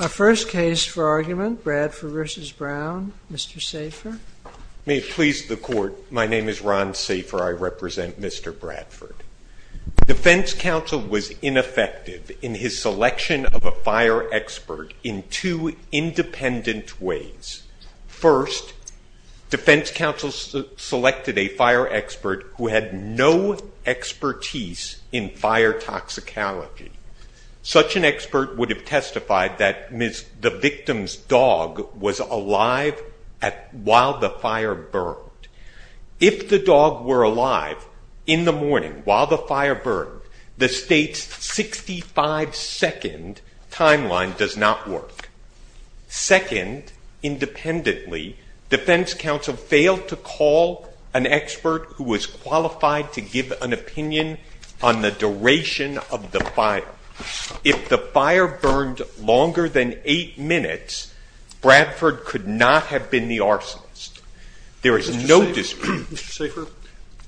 Our first case for argument, Bradford v. Brown, Mr. Safer. May it please the court, my name is Ron Safer. I represent Mr. Bradford. Defense counsel was ineffective in his selection of a fire expert in two independent ways. First, defense counsel selected a fire expert who had no expertise in fire toxicology. Such an expert would have testified that the victim's dog was alive while the fire burned. If the dog were alive in the morning while the fire burned, the state's 65 second timeline does not work. Second, independently, defense counsel failed to call an expert who was qualified to give an opinion on the duration of the fire. If the fire burned longer than eight minutes, Bradford could not have been the arsonist. There is no dispute. Mr. Safer,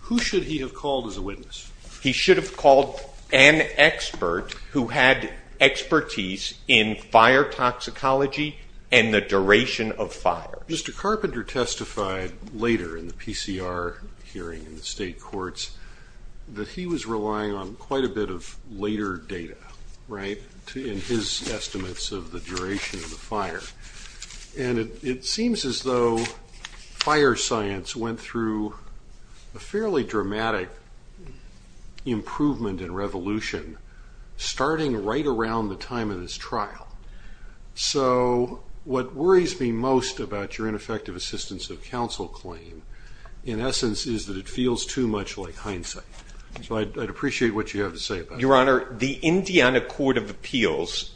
who should he have called as a witness? He should have called an expert who had expertise in fire toxicology and the duration of fire. Mr. Carpenter testified later in the PCR hearing in the state courts that he was relying on quite a bit of later data in his estimates of the duration of the fire. And it seems as though fire science went through a fairly dramatic improvement and revolution starting right around the time of this trial. So what worries me most about your ineffective assistance of counsel claim, in essence, is that it feels too much like hindsight. So I'd appreciate what you have to say about that. Your Honor, the Indiana Court of Appeals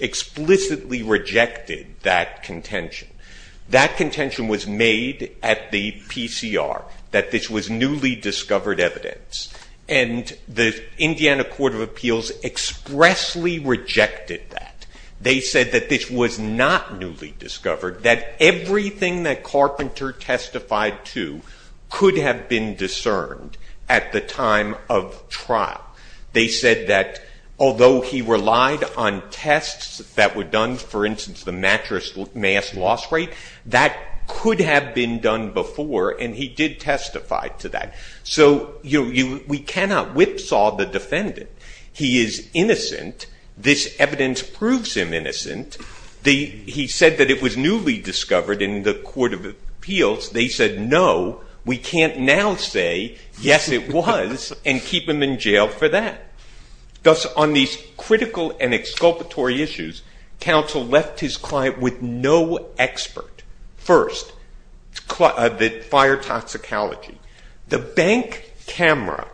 explicitly rejected that contention. That contention was made at the PCR, that this was newly discovered evidence. And the Indiana Court of Appeals expressly rejected that. They said that this was not newly discovered, that everything that Carpenter testified to could have been discerned at the time of trial. They said that although he relied on tests that were done, for instance, the mattress mass loss rate, that could have been done before. And he did testify to that. So we cannot whipsaw the defendant. He is innocent. This evidence proves him innocent. He said that it was newly discovered in the Court of Appeals. They said, no, we can't now say, yes, it was, and keep him in jail for that. Thus, on these critical and exculpatory issues, counsel left his client with no expert. First, the fire toxicology. The bank camera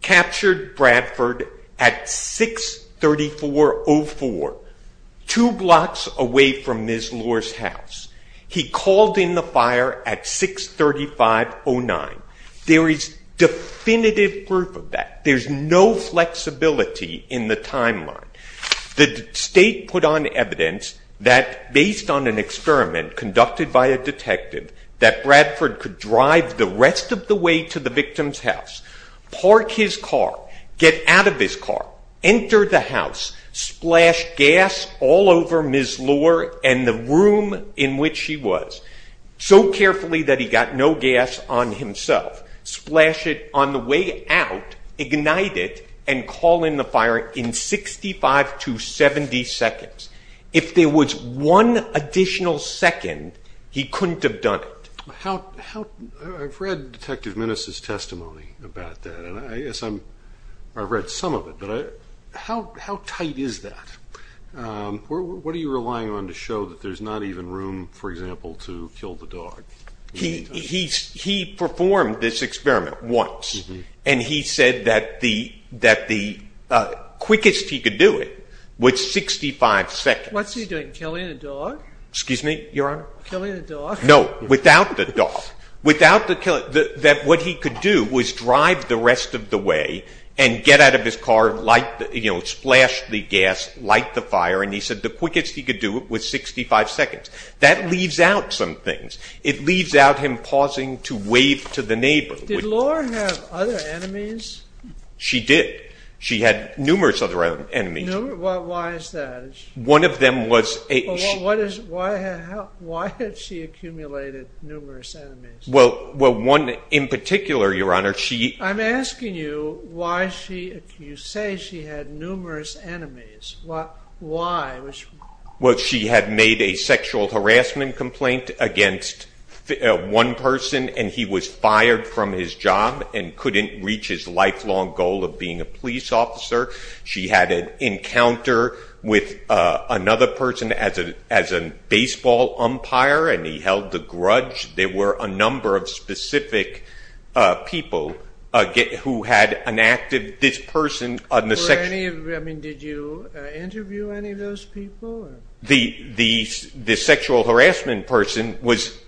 captured Bradford at 634.04, two blocks away from Ms. Lohr's house. He called in the fire at 635.09. There is definitive proof of that. There's no flexibility in the timeline. The state put on evidence that based on an experiment conducted by a detective, that Bradford could drive the rest of the way to the victim's house, park his car, get out of his car, enter the house, splash gas all over Ms. Lohr and the room in which she was, so carefully that he got no gas on himself, splash it on the way out, ignite it, and call in the fire in 65 to 70 seconds. If there was one additional second, he couldn't have done it. I've read Detective Minnis' testimony about that. And I guess I've read some of it. How tight is that? What are you relying on to show that there's not even room, for example, to kill the dog? He performed this experiment once. And he said that the quickest he could do it was 65 seconds. What's he doing, killing a dog? Excuse me, Your Honor? Killing a dog? No, without the dog. That what he could do was drive the rest of the way and get out of his car, splash the gas, light the fire. And he said the quickest he could do it was 65 seconds. That leaves out some things. It leaves out him pausing to wave to the neighbor. Did Lohr have other enemies? She did. She had numerous other enemies. Why is that? One of them was a she. Why had she accumulated numerous enemies? Well, one in particular, Your Honor, she. I'm asking you why she, you say she had numerous enemies. Why? Well, she had made a sexual harassment complaint against one person. And he was fired from his job and couldn't reach his lifelong goal of being a police officer. She had an encounter with another person as a baseball umpire. And he held the grudge. There were a number of specific people who had enacted this person on the section. Did you interview any of those people? The sexual harassment person was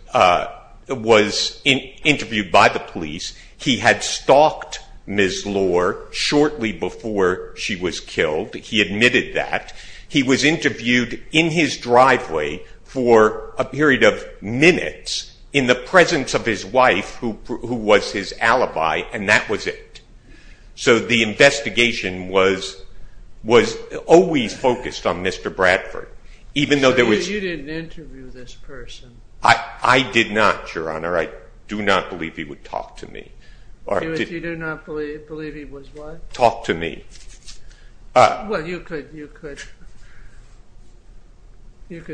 interviewed by the police. He had stalked Ms. Lohr shortly before she was killed. He admitted that. He was interviewed in his driveway for a period of minutes in the presence of his wife, who was his alibi. And that was it. So the investigation was always focused on Mr. Bradford. Even though there was. You didn't interview this person. I did not, Your Honor. I do not believe he would talk to me. You do not believe he was what? Talk to me. Well, you could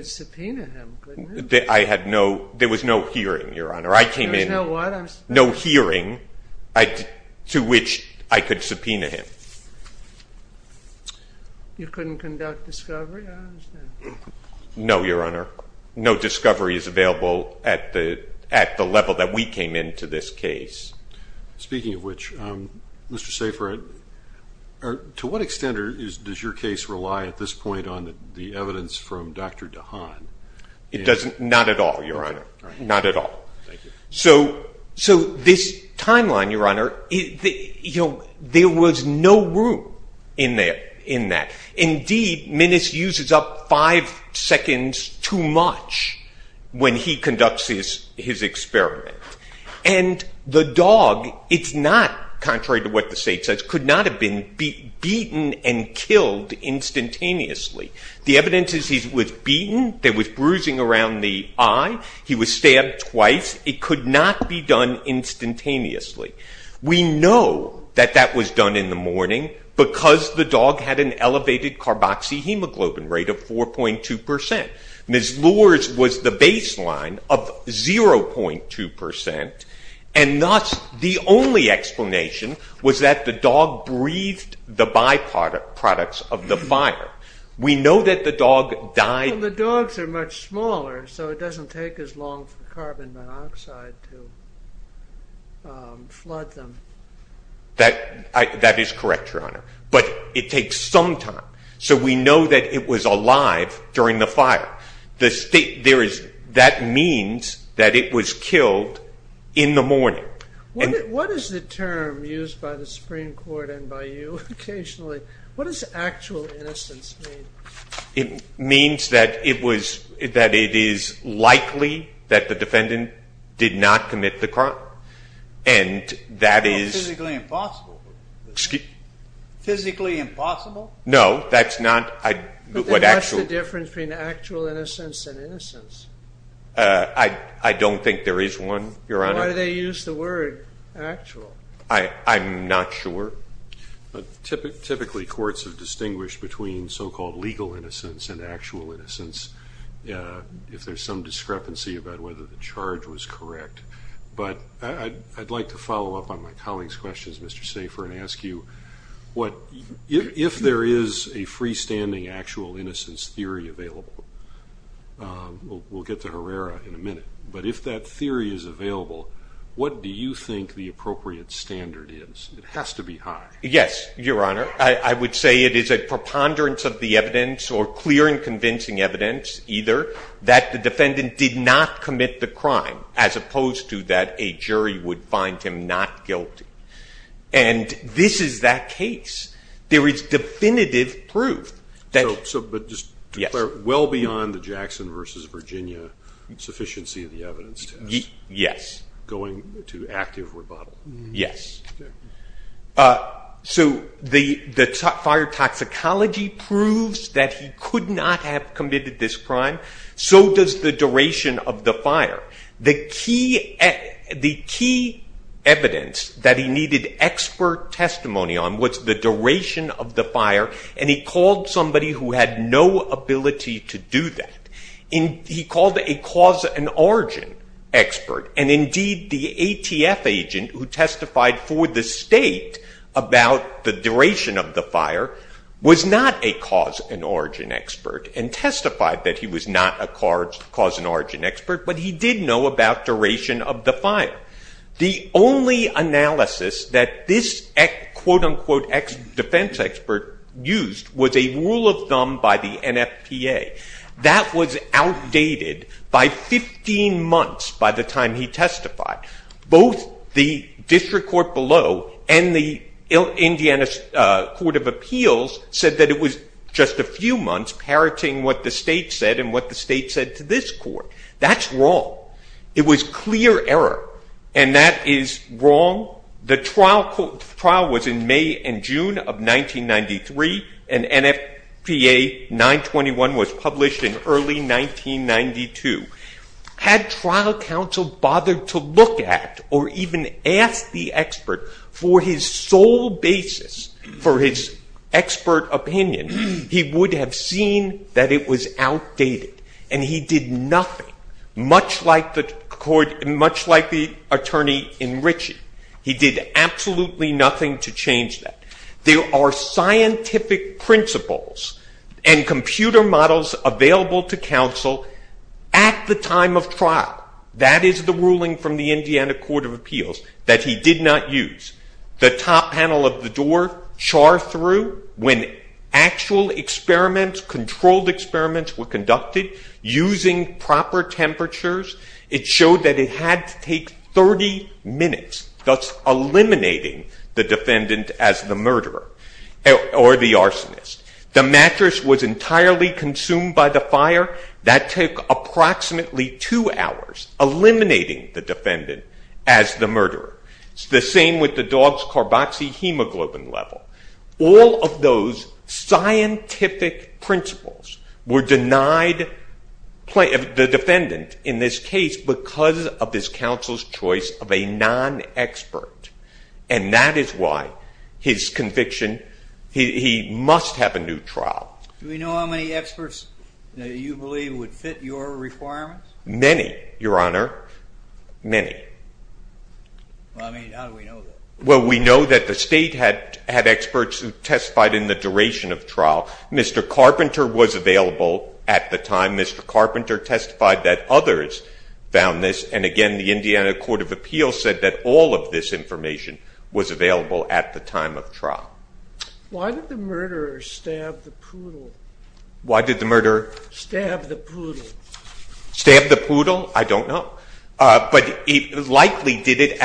subpoena him, couldn't you? I had no. There was no hearing, Your Honor. I came in. There was no what? No hearing to which I could subpoena him. You couldn't conduct discovery? No, Your Honor. No discovery is available at the level that we came into this case. Speaking of which, Mr. Seyfried, to what extent does your case rely at this point on the evidence from Dr. DeHaan? Not at all, Your Honor. Not at all. So this timeline, Your Honor, there was no room in that. Indeed, Minnis uses up five seconds too much when he conducts his experiment. And the dog, it's not contrary to what the state says, could not have been beaten and killed instantaneously. The evidence is he was beaten. There was bruising around the eye. He was stabbed twice. It could not be done instantaneously. We know that that was done in the morning because the dog had an elevated carboxyhemoglobin rate of 4.2%. Ms. Lohr's was the baseline of 0.2%. And thus, the only explanation was that the dog breathed the byproducts of the fire. We know that the dog died. Well, the dogs are much smaller, so it doesn't take as long for carbon monoxide to flood them. That is correct, Your Honor. But it takes some time. So we know that it was alive during the fire. That means that it was killed in the morning. What is the term used by the Supreme Court and by you occasionally? What does actual innocence mean? It means that it is likely that the defendant did not commit the crime. And that is physically impossible. No, that's not what actual. But then what's the difference between actual innocence and innocence? I don't think there is one, Your Honor. Why do they use the word actual? I'm not sure. Typically, courts have distinguished between so-called legal innocence and actual innocence if there's some discrepancy about whether the charge was correct. But I'd like to follow up on my colleague's questions, Mr. Safer, and ask you, if there is a freestanding actual innocence theory available, we'll get to Herrera in a minute. But if that theory is available, what do you think the appropriate standard is? It has to be high. Yes, Your Honor. I would say it is a preponderance of the evidence or clear and convincing evidence either that the defendant did not commit the crime as opposed to that a jury would find him not guilty. And this is that case. There is definitive proof. But just to be clear, well beyond the Jackson versus Virginia sufficiency of the evidence test. Yes. Going to active rebuttal. Yes. So the fire toxicology proves that he could not have committed this crime. So does the duration of the fire. The key evidence that he needed expert testimony on was the duration of the fire. And he called somebody who had no ability to do that. He called a cause and origin expert. And indeed, the ATF agent who testified for the state about the duration of the fire was not a cause and origin expert and testified that he was not a cause and origin expert. But he did know about duration of the fire. The only analysis that this quote unquote defense expert used was a rule of thumb by the NFPA. That was outdated by 15 months by the time he testified. Both the district court below and the Indiana Court of Appeals said that it was just a few months parroting what the state said and what the state said to this court. That's wrong. It was clear error. And that is wrong. The trial was in May and June of 1993. And NFPA 921 was published in early 1992. Had trial counsel bothered to look at or even ask the expert for his sole basis, for his expert opinion, he would have seen that it was outdated. And he did nothing, much like the attorney in Ritchie. He did absolutely nothing to change that. There are scientific principles and computer models available to counsel at the time of trial. That is the ruling from the Indiana Court of Appeals that he did not use. The top panel of the door charred through when actual experiments, controlled experiments were conducted using proper temperatures. It showed that it had to take 30 minutes, thus eliminating the defendant as the murderer or the arsonist. The mattress was entirely consumed by the fire. That took approximately two hours, eliminating the defendant as the murderer. It's the same with the dog's carboxyhemoglobin level. All of those scientific principles were denied the defendant in this case because of this counsel's choice of a non-expert. And that is why his conviction, he must have a new trial. Do we know how many experts that you believe would fit your requirements? Many, Your Honor, many. I mean, how do we know that? Well, we know that the state had experts who testified in the duration of trial. Mr. Carpenter was available at the time. Mr. Carpenter testified that others found this. And again, the Indiana Court of Appeals said that all of this information was available at the time of trial. Why did the murderer stab the poodle? Why did the murderer? Stab the poodle. Stab the poodle? I don't know. But he likely did it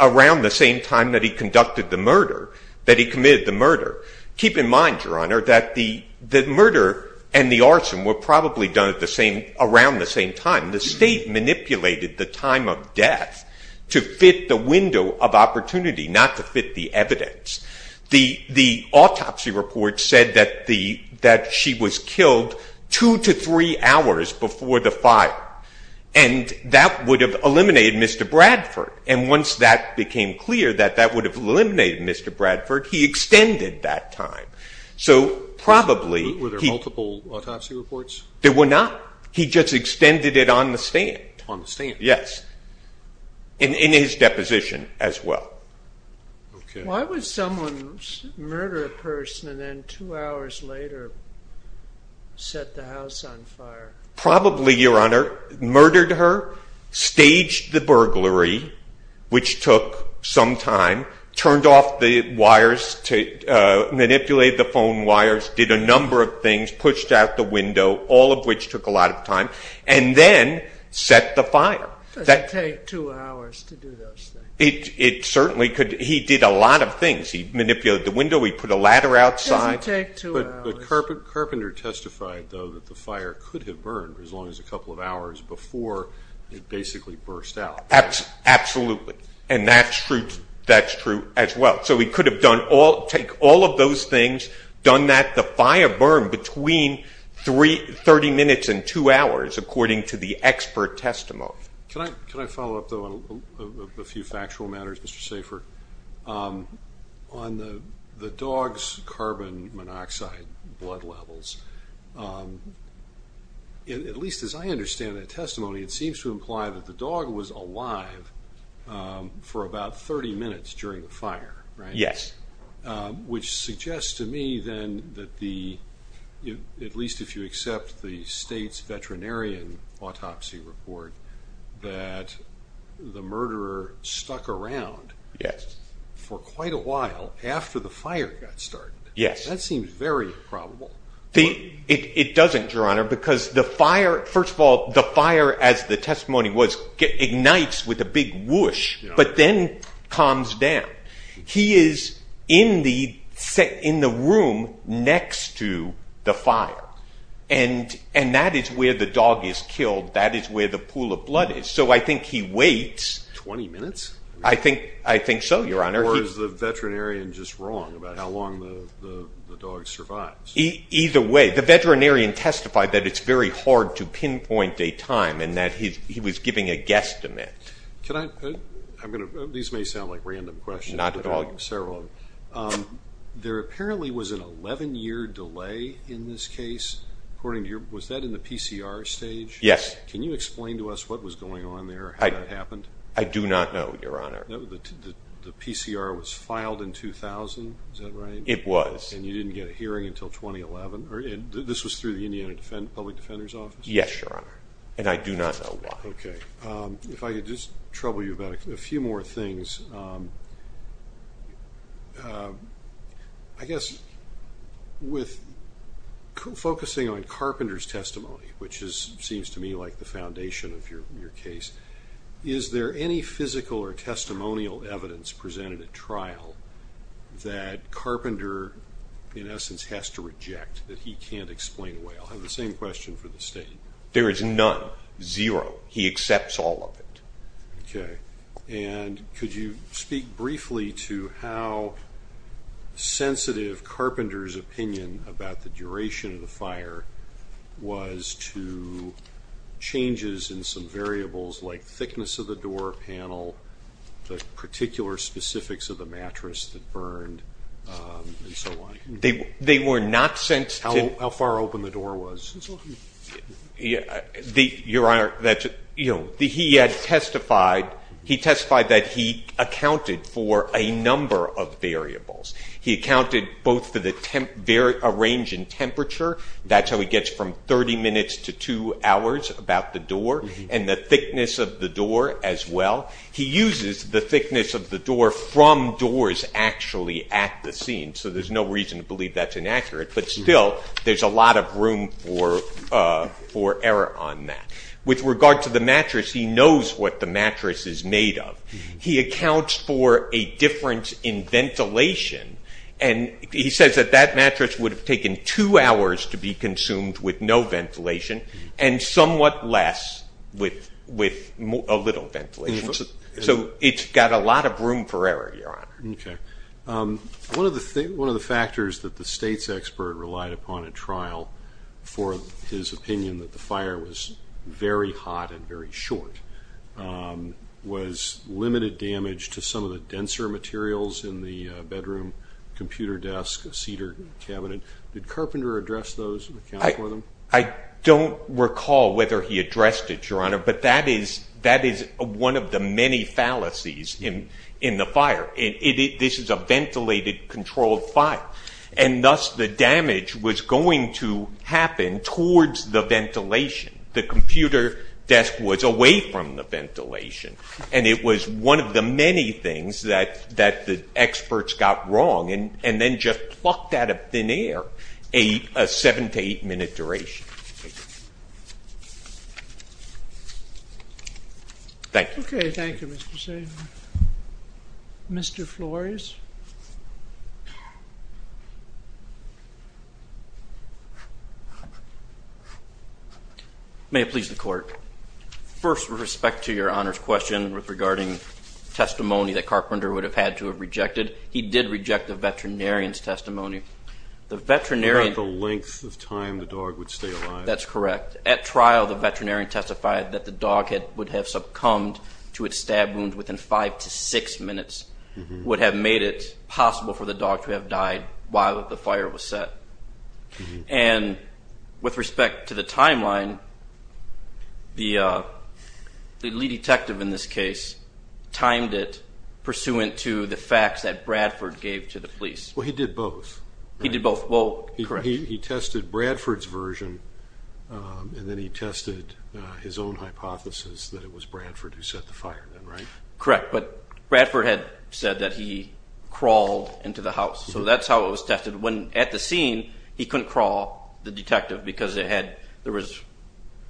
around the same time that he conducted the murder, that he committed the murder. Keep in mind, Your Honor, that the murder and the arson were probably done around the same time. The state manipulated the time of death to fit the window of opportunity, not to fit the evidence. The autopsy report said that she was killed two to three hours before the fire. And that would have eliminated Mr. Bradford. And once that became clear that that would have eliminated Mr. Bradford, he extended that time. So probably he- Were there multiple autopsy reports? There were not. He just extended it on the stand. On the stand? Yes. And in his deposition as well. Why would someone murder a person and then two hours later set the house on fire? Probably, Your Honor, murdered her, staged the burglary, which took some time, turned off the wires to manipulate the phone wires, did a number of things, pushed out the window, all of which took a lot of time, and then set the fire. Does it take two hours to do those things? It certainly could. He did a lot of things. He manipulated the window. He put a ladder outside. Does it take two hours? But Carpenter testified, though, that the fire could have burned for as long as a couple of hours before it basically burst out. Absolutely. And that's true as well. So he could have done all- take all of those things, done that, the fire burned between 30 minutes and two hours, according to the expert testimony. Can I follow up, though, on a few factual matters, Mr. Safer? On the dog's carbon monoxide blood levels, at least as I understand that testimony, it seems to imply that the dog was alive for about 30 minutes during the fire, right? Yes. Which suggests to me, then, that the- at least if you accept the state's veterinarian autopsy report, that the murderer stuck around. Yes. For quite a while after the fire got started. Yes. That seems very probable. It doesn't, Your Honor, because the fire- first of all, the fire, as the testimony was, ignites with a big whoosh, but then calms down. He is in the room next to the fire. And that is where the dog is killed. That is where the pool of blood is. So I think he waits. 20 minutes? I think so, Your Honor. Or is the veterinarian just wrong about how long the dog survives? Either way, the veterinarian testified that it's very hard to pinpoint a time and that he was giving a guesstimate. These may sound like random questions. Not at all. But I'm sorry. There apparently was an 11-year delay in this case, according to your- was that in the PCR stage? Yes. Can you explain to us what was going on there? How that happened? I do not know, Your Honor. The PCR was filed in 2000, is that right? It was. And you didn't get a hearing until 2011? Or this was through the Indiana Public Defender's Office? Yes, Your Honor. And I do not know why. OK. If I could just trouble you about a few more things. I guess with focusing on Carpenter's testimony, which seems to me like the foundation of your case, is there any physical or testimonial evidence presented at trial that Carpenter, in essence, has to reject, that he can't explain away? I'll have the same question for the State. There is none. Zero. He accepts all of it. OK. And could you speak briefly to how sensitive Carpenter's opinion about the duration of the fire was to changes in some variables like thickness of the door panel, the particular specifics of the mattress that burned, and so on? They were not sent to- How far open the door was and so on? Your Honor, he testified that he accounted for a number of variables. He accounted both for a range in temperature. That's how he gets from 30 minutes to two hours about the door. And the thickness of the door as well. He uses the thickness of the door from doors actually at the scene. So there's no reason to believe that's inaccurate. But still, there's a lot of room for error on that. With regard to the mattress, he knows what the mattress is made of. He accounts for a difference in ventilation. And he says that that mattress would have taken two hours to be consumed with no ventilation and somewhat less with a little ventilation. So it's got a lot of room for error, Your Honor. One of the factors that the state's expert relied upon in trial for his opinion that the fire was very hot and very short was limited damage to some of the denser materials in the bedroom, computer desk, cedar cabinet. Did Carpenter address those and account for them? I don't recall whether he addressed it, Your Honor. But that is one of the many fallacies in the fire. This is a ventilated, controlled fire. And thus, the damage was going to happen towards the ventilation. The computer desk was away from the ventilation. And it was one of the many things that the experts got wrong and then just plucked out of thin air a seven to eight minute duration. Thank you. OK. Thank you, Mr. Sagan. Mr. Flores. May it please the court. First, with respect to Your Honor's question regarding testimony that Carpenter would have had to have rejected, he did reject the veterinarian's testimony. The veterinarian. About the length of time the dog would stay alive. That's correct. At trial, the veterinarian testified that the dog would have succumbed to its stab wounds within five to six minutes. Would have made it possible for the dog to have died while the fire was set. And with respect to the timeline, the lead detective in this case timed it pursuant to the facts that Bradford gave to the police. Well, he did both. He did both. Well, correct. He tested Bradford's version. And then he tested his own hypothesis that it was Bradford who set the fire then, right? Correct. But Bradford had said that he crawled into the house. So that's how it was tested. At the scene, he couldn't crawl, the detective, because there was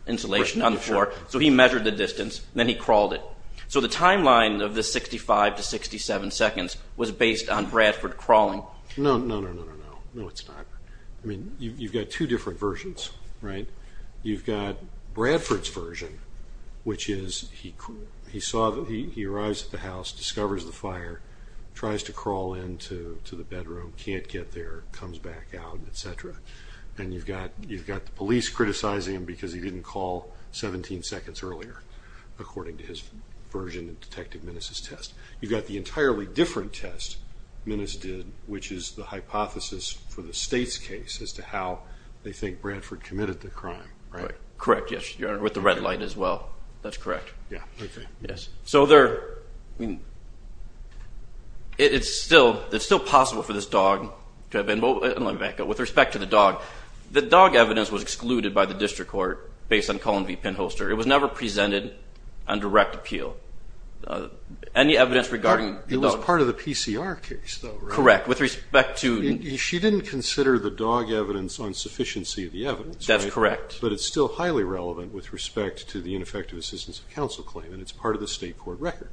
insulation on the floor. So he measured the distance, and then he crawled it. So the timeline of the 65 to 67 seconds was based on Bradford crawling. No, no, no, no, no, no. No, it's not. I mean, you've got two different versions, right? You've got Bradford's version, which is he arrives at the house, discovers the fire, tries to crawl into the bedroom, can't get there, comes back out, et cetera. And you've got the police criticizing him because he didn't call 17 seconds earlier, according to his version of Detective Minnis' test. You've got the entirely different test Minnis did, which is the hypothesis for the state's case as to how they think Bradford committed the crime, right? Correct, yes. With the red light as well. That's correct. Yeah, OK. Yes. So there, I mean, it's still possible for this dog to have been, with respect to the dog, the dog evidence was excluded by the district court based on Cullen v. Pinholster. It was never presented on direct appeal. Any evidence regarding the dog. It was part of the PCR case, though, right? Correct, with respect to. She didn't consider the dog evidence on sufficiency of the evidence, right? That's correct. But it's still highly relevant with respect to the ineffective assistance of counsel claim. And it's part of the state court record.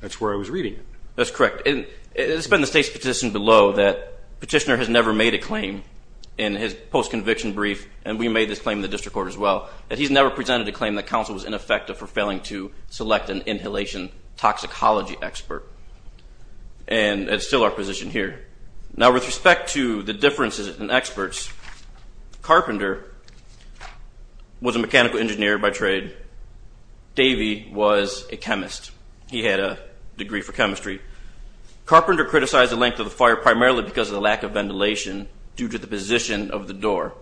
That's where I was reading it. That's correct. And it's been the state's petition below that petitioner has never made a claim in his post-conviction brief, and we made this claim in the district court as well, that he's never presented a claim that counsel was ineffective for failing to select an inhalation toxicology expert. And it's still our position here. Now, with respect to the differences in experts, Carpenter was a mechanical engineer by trade. Davey was a chemist. He had a degree for chemistry. Carpenter criticized the length of the fire primarily because of the lack of ventilation due to the position of the door,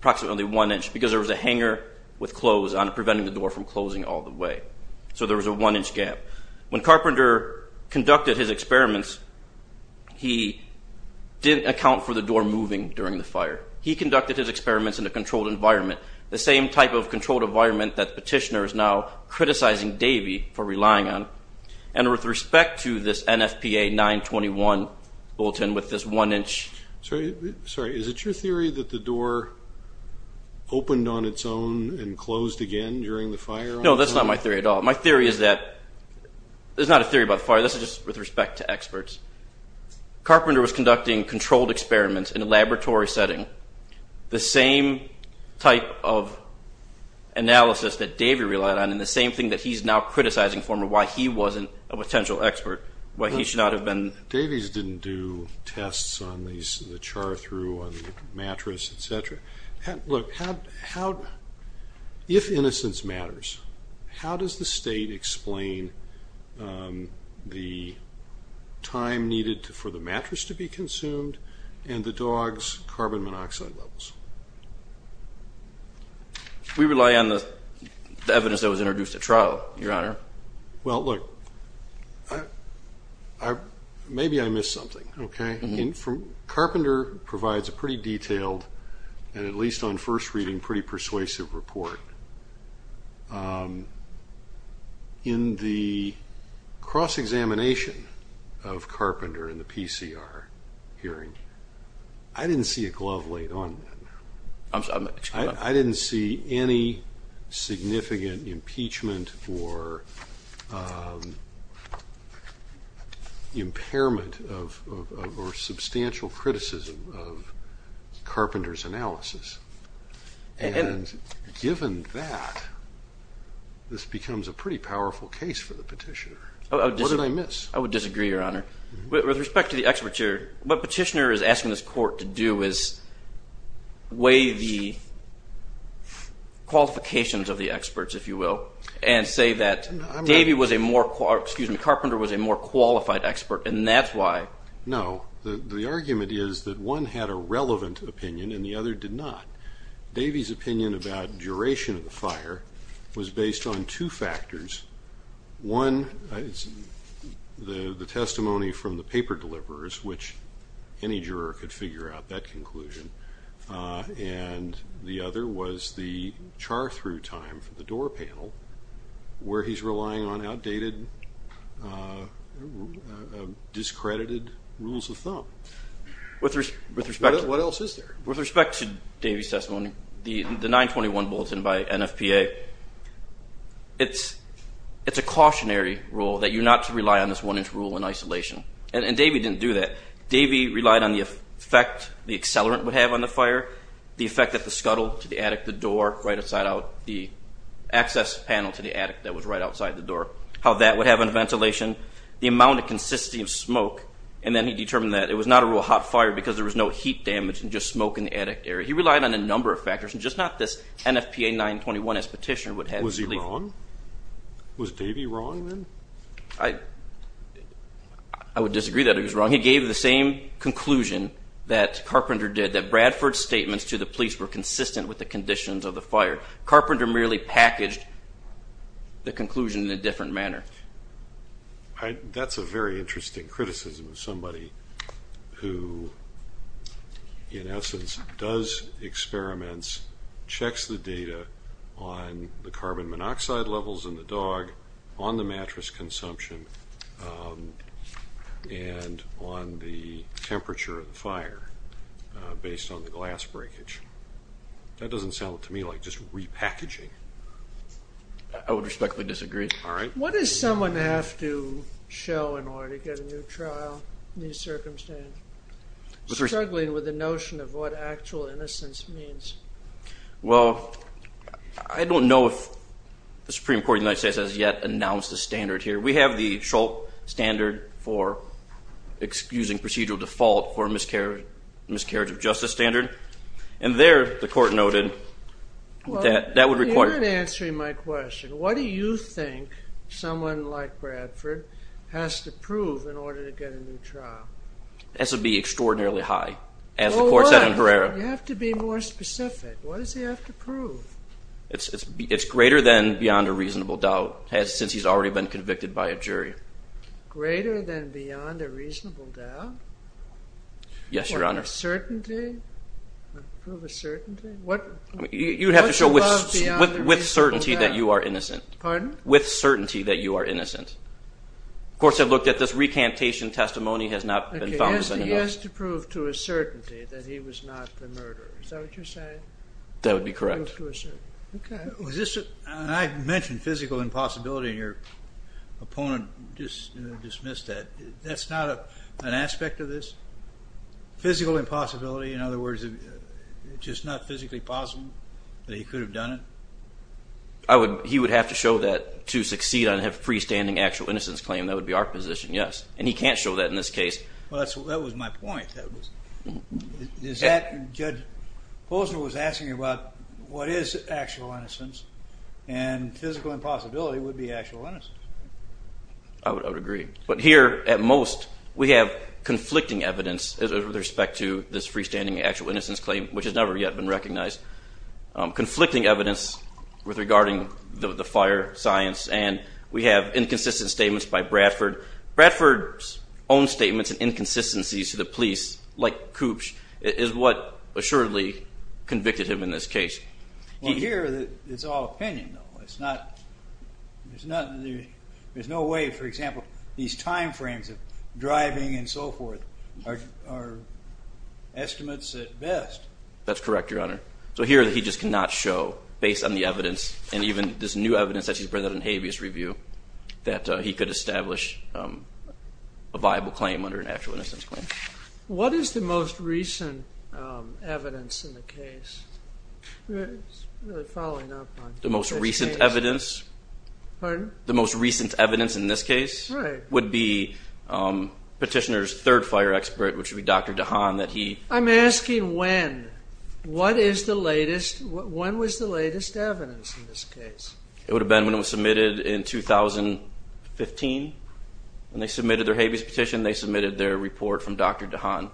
approximately one inch, because there was a hanger with clothes on it preventing the door from closing all the way. So there was a one inch gap. When Carpenter conducted his experiments, he didn't account for the door moving during the fire. He conducted his experiments in a controlled environment, the same type of controlled environment that the petitioner is now criticizing Davey for relying on. And with respect to this NFPA 921 bulletin with this one inch. Sorry, is it your theory that the door opened on its own and closed again during the fire? No, that's not my theory at all. My theory is that there's not a theory about fire. This is just with respect to experts. Carpenter was conducting controlled experiments in a laboratory setting. The same type of analysis that Davey relied on and the same thing that he's now criticizing for why he wasn't a potential expert, why he should not have been. Davey's didn't do tests on the char through on the mattress, et cetera. Look, if innocence matters, how does the state explain the time needed for the mattress to be consumed and the dog's carbon monoxide levels? We rely on the evidence that was introduced at trial, your honor. Well, look, maybe I missed something, okay? Carpenter provides a pretty detailed and at least on first reading pretty persuasive report in the cross-examination of Carpenter in the PCR hearing. I didn't see a glove laid on that. I'm sorry, excuse me. I didn't see any significant impeachment or impairment or substantial criticism of Carpenter's analysis. And given that, this becomes a pretty powerful case for the petitioner. What did I miss? I would disagree, your honor. With respect to the expert here, what petitioner is asking this court to do is weigh the qualifications of the experts, if you will, and say that Davey was a more, excuse me, Carpenter was a more qualified expert and that's why. No, the argument is that one had a relevant opinion and the other did not. Davey's opinion about duration of the fire was based on two factors. One, the testimony from the paper deliverers, which any juror could figure out that conclusion. And the other was the char through time from the door panel where he's relying on outdated, discredited rules of thumb. What else is there? With respect to Davey's testimony, the 921 bulletin by NFPA, it's a cautionary rule that you're not to rely on this one inch rule in isolation. And Davey didn't do that. Davey relied on the effect the accelerant would have on the fire, the effect that the scuttle to the attic, the door right outside out, the access panel to the attic that was right outside the door, how that would have on ventilation, the amount of consistency of smoke, and then he determined that it was not a real hot fire because there was no heat damage and just smoke in the attic area. He relied on a number of factors and just not this NFPA 921S petition would have. Was he wrong? Was Davey wrong then? I would disagree that he was wrong. He gave the same conclusion that Carpenter did, that Bradford's statements to the police were consistent with the conditions of the fire. Carpenter merely packaged the conclusion in a different manner. That's a very interesting criticism of somebody who, in essence, does experiments, checks the data on the carbon monoxide levels in the dog, on the mattress consumption, and on the temperature of the fire based on the glass breakage. That doesn't sound to me like just repackaging. I would respectfully disagree. All right. What does someone have to show in order to get a new trial, new circumstance? Struggling with the notion of what actual innocence means. Well, I don't know if the Supreme Court of the United States has yet announced a standard here. We have the Shultz standard for excusing procedural default for a miscarriage of justice standard. And there, the court noted that that would require- You're not answering my question. What do you think someone like Bradford has to prove in order to get a new trial? This would be extraordinarily high, as the court said in Herrera. You have to be more specific. What does he have to prove? It's greater than beyond a reasonable doubt since he's already been convicted by a jury. Greater than beyond a reasonable doubt? Yes, Your Honor. Or a certainty? Prove a certainty? What's above beyond a reasonable doubt? With certainty that you are innocent. Pardon? With certainty that you are innocent. Courts have looked at this recantation testimony has not been found to be enough. Okay, he has to prove to a certainty that he was not the murderer. Is that what you're saying? That would be correct. Prove to a certainty. Okay. And I mentioned physical impossibility and your opponent just dismissed that. That's not an aspect of this? Physical impossibility, in other words, just not physically possible that he could have done it? He would have to show that to succeed on a freestanding actual innocence claim. That would be our position, yes. And he can't show that in this case. Well, that was my point. Judge Bozner was asking about what is actual innocence and physical impossibility would be actual innocence. I would agree. But here, at most, we have conflicting evidence with respect to this freestanding actual innocence claim, which has never yet been recognized. Conflicting evidence with regarding the fire science and we have inconsistent statements by Bradford. Bradford's own statements and inconsistencies to the police like Koops is what assuredly convicted him in this case. Well, here, it's all opinion, though. It's not, there's no way, for example, these timeframes of driving and so forth are estimates at best. That's correct, Your Honor. So here, he just cannot show, based on the evidence and even this new evidence that he's presented in habeas review, that he could establish a viable claim under an actual innocence claim. What is the most recent evidence in the case? Following up on- The most recent evidence? Pardon? The most recent evidence in this case would be petitioner's third fire expert, which would be Dr. DeHaan, that he- I'm asking when. What is the latest, when was the latest evidence in this case? It would have been when it was submitted in 2015 when they submitted their habeas petition. They submitted their report from Dr. DeHaan.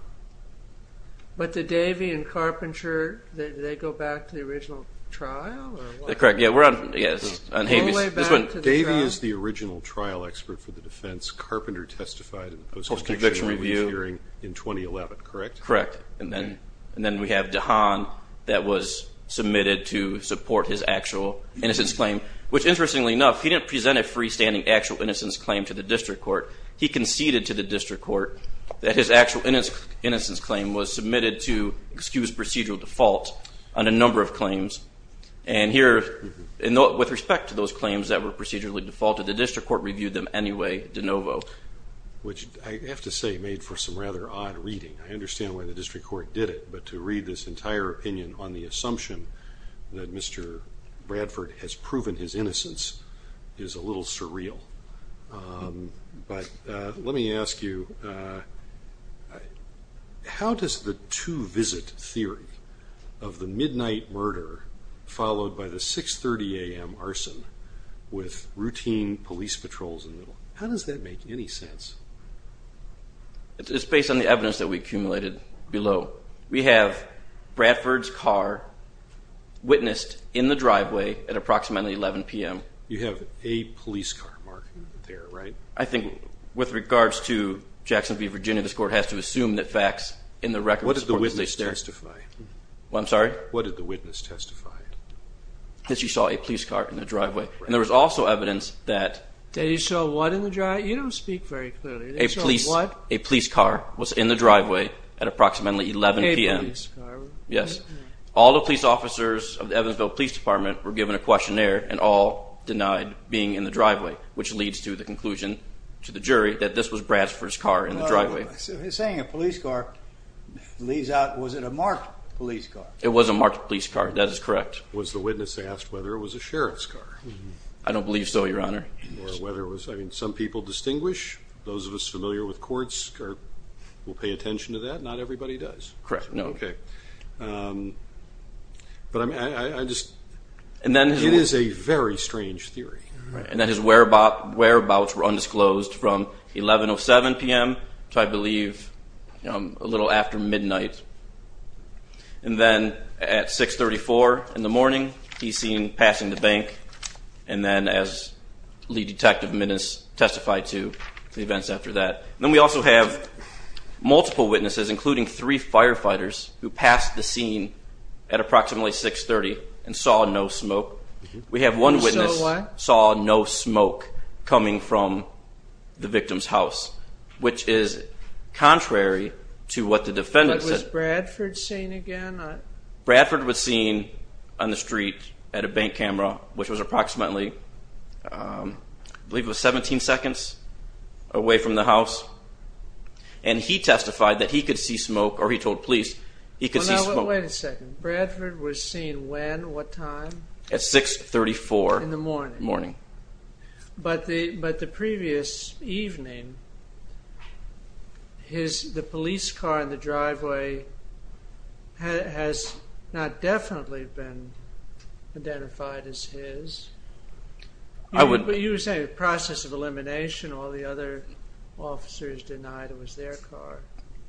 But did Davey and Carpenter, did they go back to the original trial, or what? Correct, yeah, we're on, yes, on habeas. All the way back to the trial. Davey is the original trial expert for the defense. Carpenter testified in the post-conviction review hearing in 2011, correct? Correct, and then we have DeHaan that was submitted to support his actual innocence claim, which, interestingly enough, he didn't present a freestanding actual innocence claim to the district court. He conceded to the district court that his actual innocence claim was submitted to excused procedural default on a number of claims. And here, with respect to those claims that were procedurally defaulted, the district court reviewed them anyway de novo. Which, I have to say, made for some rather odd reading. I understand why the district court did it, but to read this entire opinion on the assumption that Mr. Bradford has proven his innocence is a little surreal. But let me ask you, how does the two-visit theory of the midnight murder followed by the 6.30 a.m. arson with routine police patrols in the middle, how does that make any sense? It's based on the evidence that we accumulated below. We have Bradford's car witnessed in the driveway at approximately 11 p.m. You have a police car, Mark. There, right? I think, with regards to Jackson V, Virginia, this court has to assume that facts in the record of this court... What did the witness testify? What, I'm sorry? What did the witness testify? That she saw a police car in the driveway. And there was also evidence that... That he saw what in the driveway? You don't speak very clearly. They saw what? A police car was in the driveway at approximately 11 p.m. A police car? Yes. All the police officers of the Evansville Police Department were given a questionnaire and all denied being in the driveway, which leads to the conclusion to the jury that this was Bradford's car in the driveway. He's saying a police car leads out... Was it a marked police car? It was a marked police car. That is correct. Was the witness asked whether it was a sheriff's car? I don't believe so, Your Honor. Or whether it was... I mean, some people distinguish. Those of us familiar with courts will pay attention to that. Not everybody does. Correct, no. Okay. But I just... And then... It is a very strange theory. And that his whereabouts were undisclosed from 11.07 p.m. to, I believe, a little after midnight. And then at 6.34 in the morning, he's seen passing the bank. And then as lead detective Minnis testified to the events after that. And then we also have multiple witnesses, including three firefighters, who passed the scene at approximately 6.30 and saw no smoke. We have one witness... Who saw no smoke coming from the victim's house, which is contrary to what the defendant said. But was Bradford seen again? Bradford was seen on the street at a bank camera, which was approximately, I believe it was 17 seconds away from the house. And he testified that he could see smoke, or he told police he could see smoke. Well, now, wait a second. Bradford was seen when, what time? At 6.34. In the morning. But the previous evening, the police car in the driveway has not definitely been identified as his. I would... But you were saying process of elimination, all the other officers denied it was their car.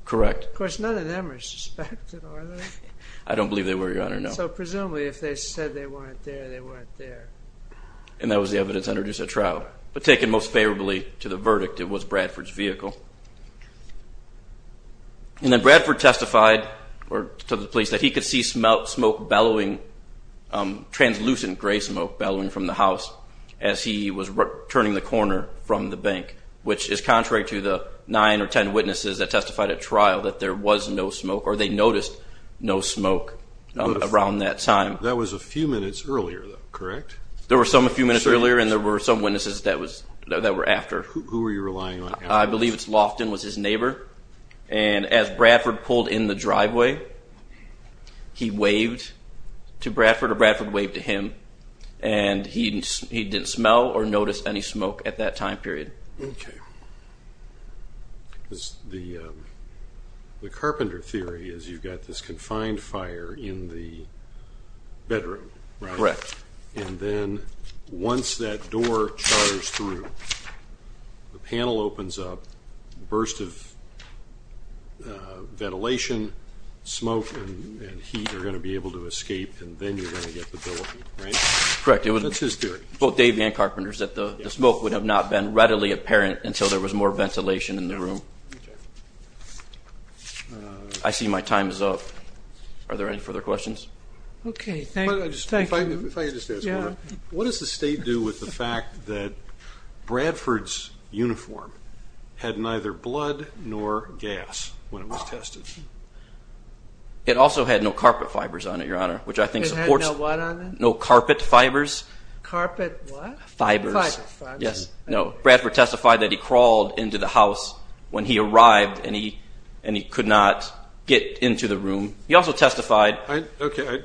Correct. Of course, none of them are suspected, are they? I don't believe they were, Your Honor, no. So presumably, if they said they weren't there, they weren't there. And that was the evidence introduced at trial. But taken most favorably to the verdict, it was Bradford's vehicle. And then Bradford testified to the police that he could see smoke bellowing, translucent gray smoke bellowing from the house as he was turning the corner from the bank, which is contrary to the nine or 10 witnesses that testified at trial that there was no smoke, or they noticed no smoke around that time. That was a few minutes earlier, though, correct? There were some a few minutes earlier, and there were some witnesses that were after. Who were you relying on after this? I believe it's Lofton was his neighbor. And as Bradford pulled in the driveway, he waved to Bradford, or Bradford waved to him, and he didn't smell or notice any smoke at that time period. Okay. Because the carpenter theory is you've got this confined fire in the bedroom, right? Correct. And then once that door chars through, the panel opens up, burst of ventilation, smoke and heat are gonna be able to escape, and then you're gonna get the billowing, right? Correct. That's his theory. Both Dave and Carpenter's, that the smoke would have not been readily apparent until there was more ventilation in the room. Okay. I see my time is up. Are there any further questions? Okay. Thank you. If I could just ask one, what does the state do with the fact that Bradford's uniform had neither blood nor gas when it was tested? It also had no carpet fibers on it, Your Honor, which I think supports- It had no what on it? No carpet fibers. Carpet what? Fibers. Fibers. Yes. No, Bradford testified that he crawled into the house when he arrived and he could not get into the room. He also testified- Okay,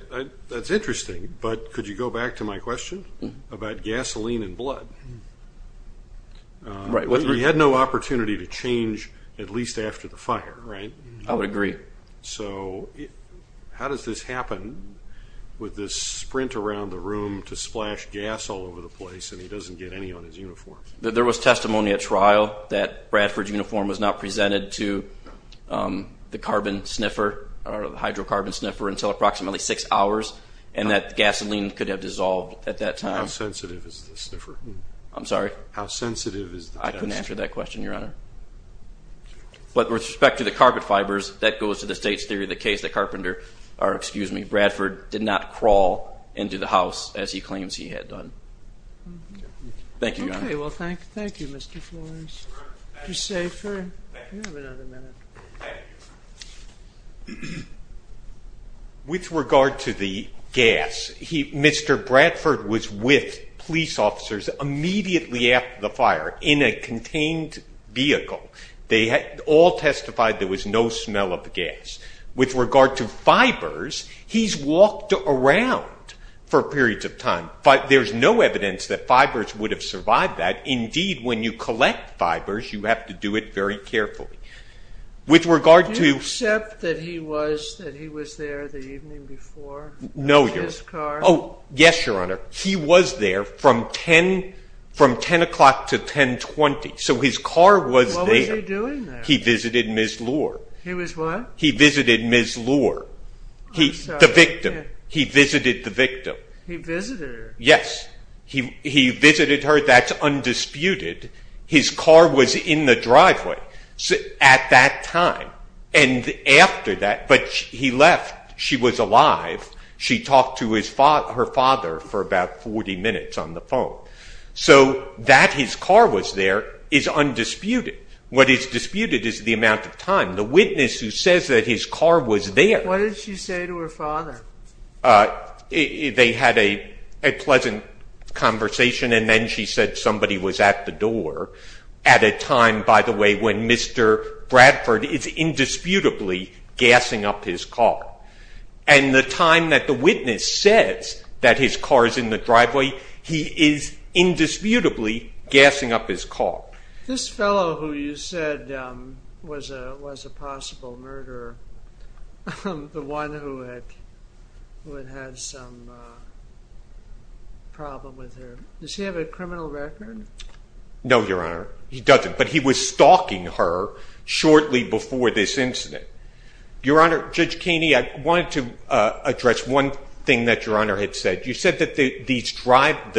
that's interesting, but could you go back to my question about gasoline and blood? Right. He had no opportunity to change at least after the fire, right? I would agree. So how does this happen with this sprint around the room to splash gas all over the place and he doesn't get any on his uniform? There was testimony at trial that Bradford's uniform was not presented to the carbon sniffer or the hydrocarbon sniffer until approximately six hours and that gasoline could have dissolved at that time. How sensitive is the sniffer? I'm sorry? How sensitive is the gas- I couldn't answer that question, Your Honor. But with respect to the carpet fibers, that goes to the state's theory of the case, that Carpenter, or excuse me, Bradford did not crawl into the house as he claims he had done. Thank you, Your Honor. Okay, well, thank you, Mr. Flores. You're safer. You have another minute. Thank you. With regard to the gas, Mr. Bradford was with police officers immediately after the fire in a contained vehicle. They all testified there was no smell of the gas. With regard to fibers, he's walked around for periods of time, but there's no evidence that fibers would have survived that. Indeed, when you collect fibers, you have to do it very carefully. With regard to- Do you accept that he was there the evening before? No, Your Honor. With his car? Oh, yes, Your Honor. He was there from 10 o'clock to 10.20, so his car was there. What was he doing there? He visited Ms. Lohr. He was what? He visited Ms. Lohr, the victim. He visited the victim. He visited her? Yes, he visited her. That's undisputed. His car was in the driveway at that time, and after that, but he left. She was alive. She talked to her father for about 40 minutes on the phone. So that his car was there is undisputed. What is disputed is the amount of time. The witness who says that his car was there- What did she say to her father? They had a pleasant conversation, and then she said somebody was at the door at a time, by the way, when Mr. Bradford is indisputably gassing up his car, and the time that the witness says that his car is in the driveway, he is indisputably gassing up his car. This fellow who you said was a possible murderer, the one who had had some problem with her, does he have a criminal record? No, Your Honor, he doesn't, but he was stalking her shortly before this incident. Your Honor, Judge Keeney, I wanted to address one thing that Your Honor had said. You said that the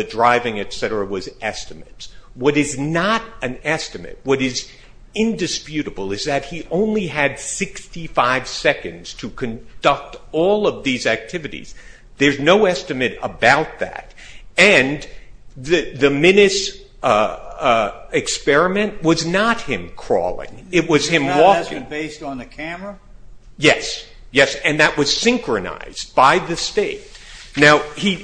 driving, et cetera, was estimates. What is not an estimate, what is indisputable, is that he only had 65 seconds to conduct all of these activities. There's no estimate about that, and the Minnis experiment was not him crawling. It was him walking. It was not an estimate based on the camera? Yes, yes, and that was synchronized by the state. Now,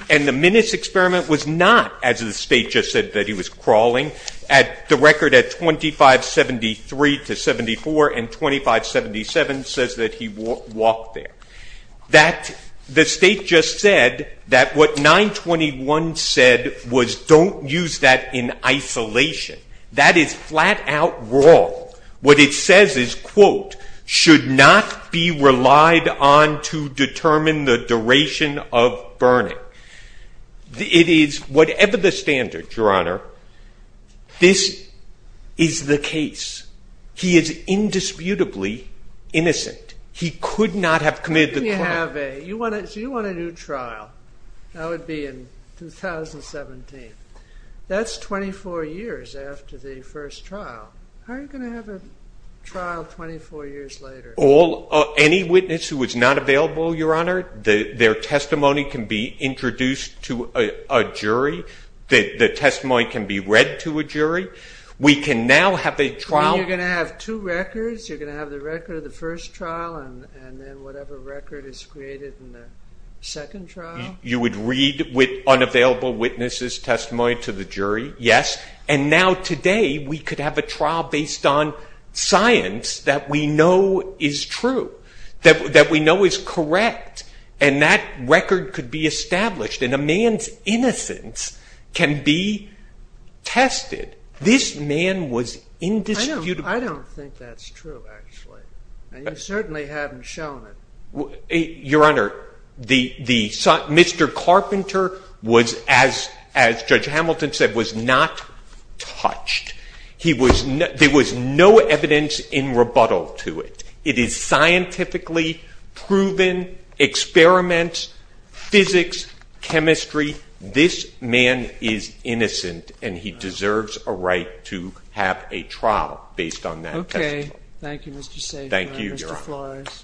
and the Minnis experiment was not, as the state just said, that he was crawling. The record at 25.73 to 74 and 25.77 says that he walked there. The state just said that what 921 said was don't use that in isolation. That is flat out wrong. What it says is, quote, should not be relied on to determine the duration of burning. It is, whatever the standards, Your Honor, this is the case. He is indisputably innocent. He could not have committed the crime. So you want a new trial. That would be in 2017. That's 24 years after the first trial. How are you gonna have a trial 24 years later? Any witness who is not available, Your Honor, their testimony can be introduced to a jury. The testimony can be read to a jury. We can now have a trial. You're gonna have two records. You're gonna have the record of the first trial and then whatever record is created in the second trial. You would read with unavailable witnesses testimony to the jury, yes, and now today we could have a trial based on science that we know is true, that we know is correct, and that record could be established and a man's innocence can be tested. This man was indisputably. I don't think that's true, actually. And you certainly haven't shown it. Your Honor, Mr. Carpenter was, as Judge Hamilton said, was not touched. He was, there was no evidence in rebuttal to it. It is scientifically proven, experiments, physics, chemistry. This man is innocent and he deserves a right to have a trial based on that testimony. Okay, thank you, Mr. Sageman. Thank you, Your Honor. Mr. Flores.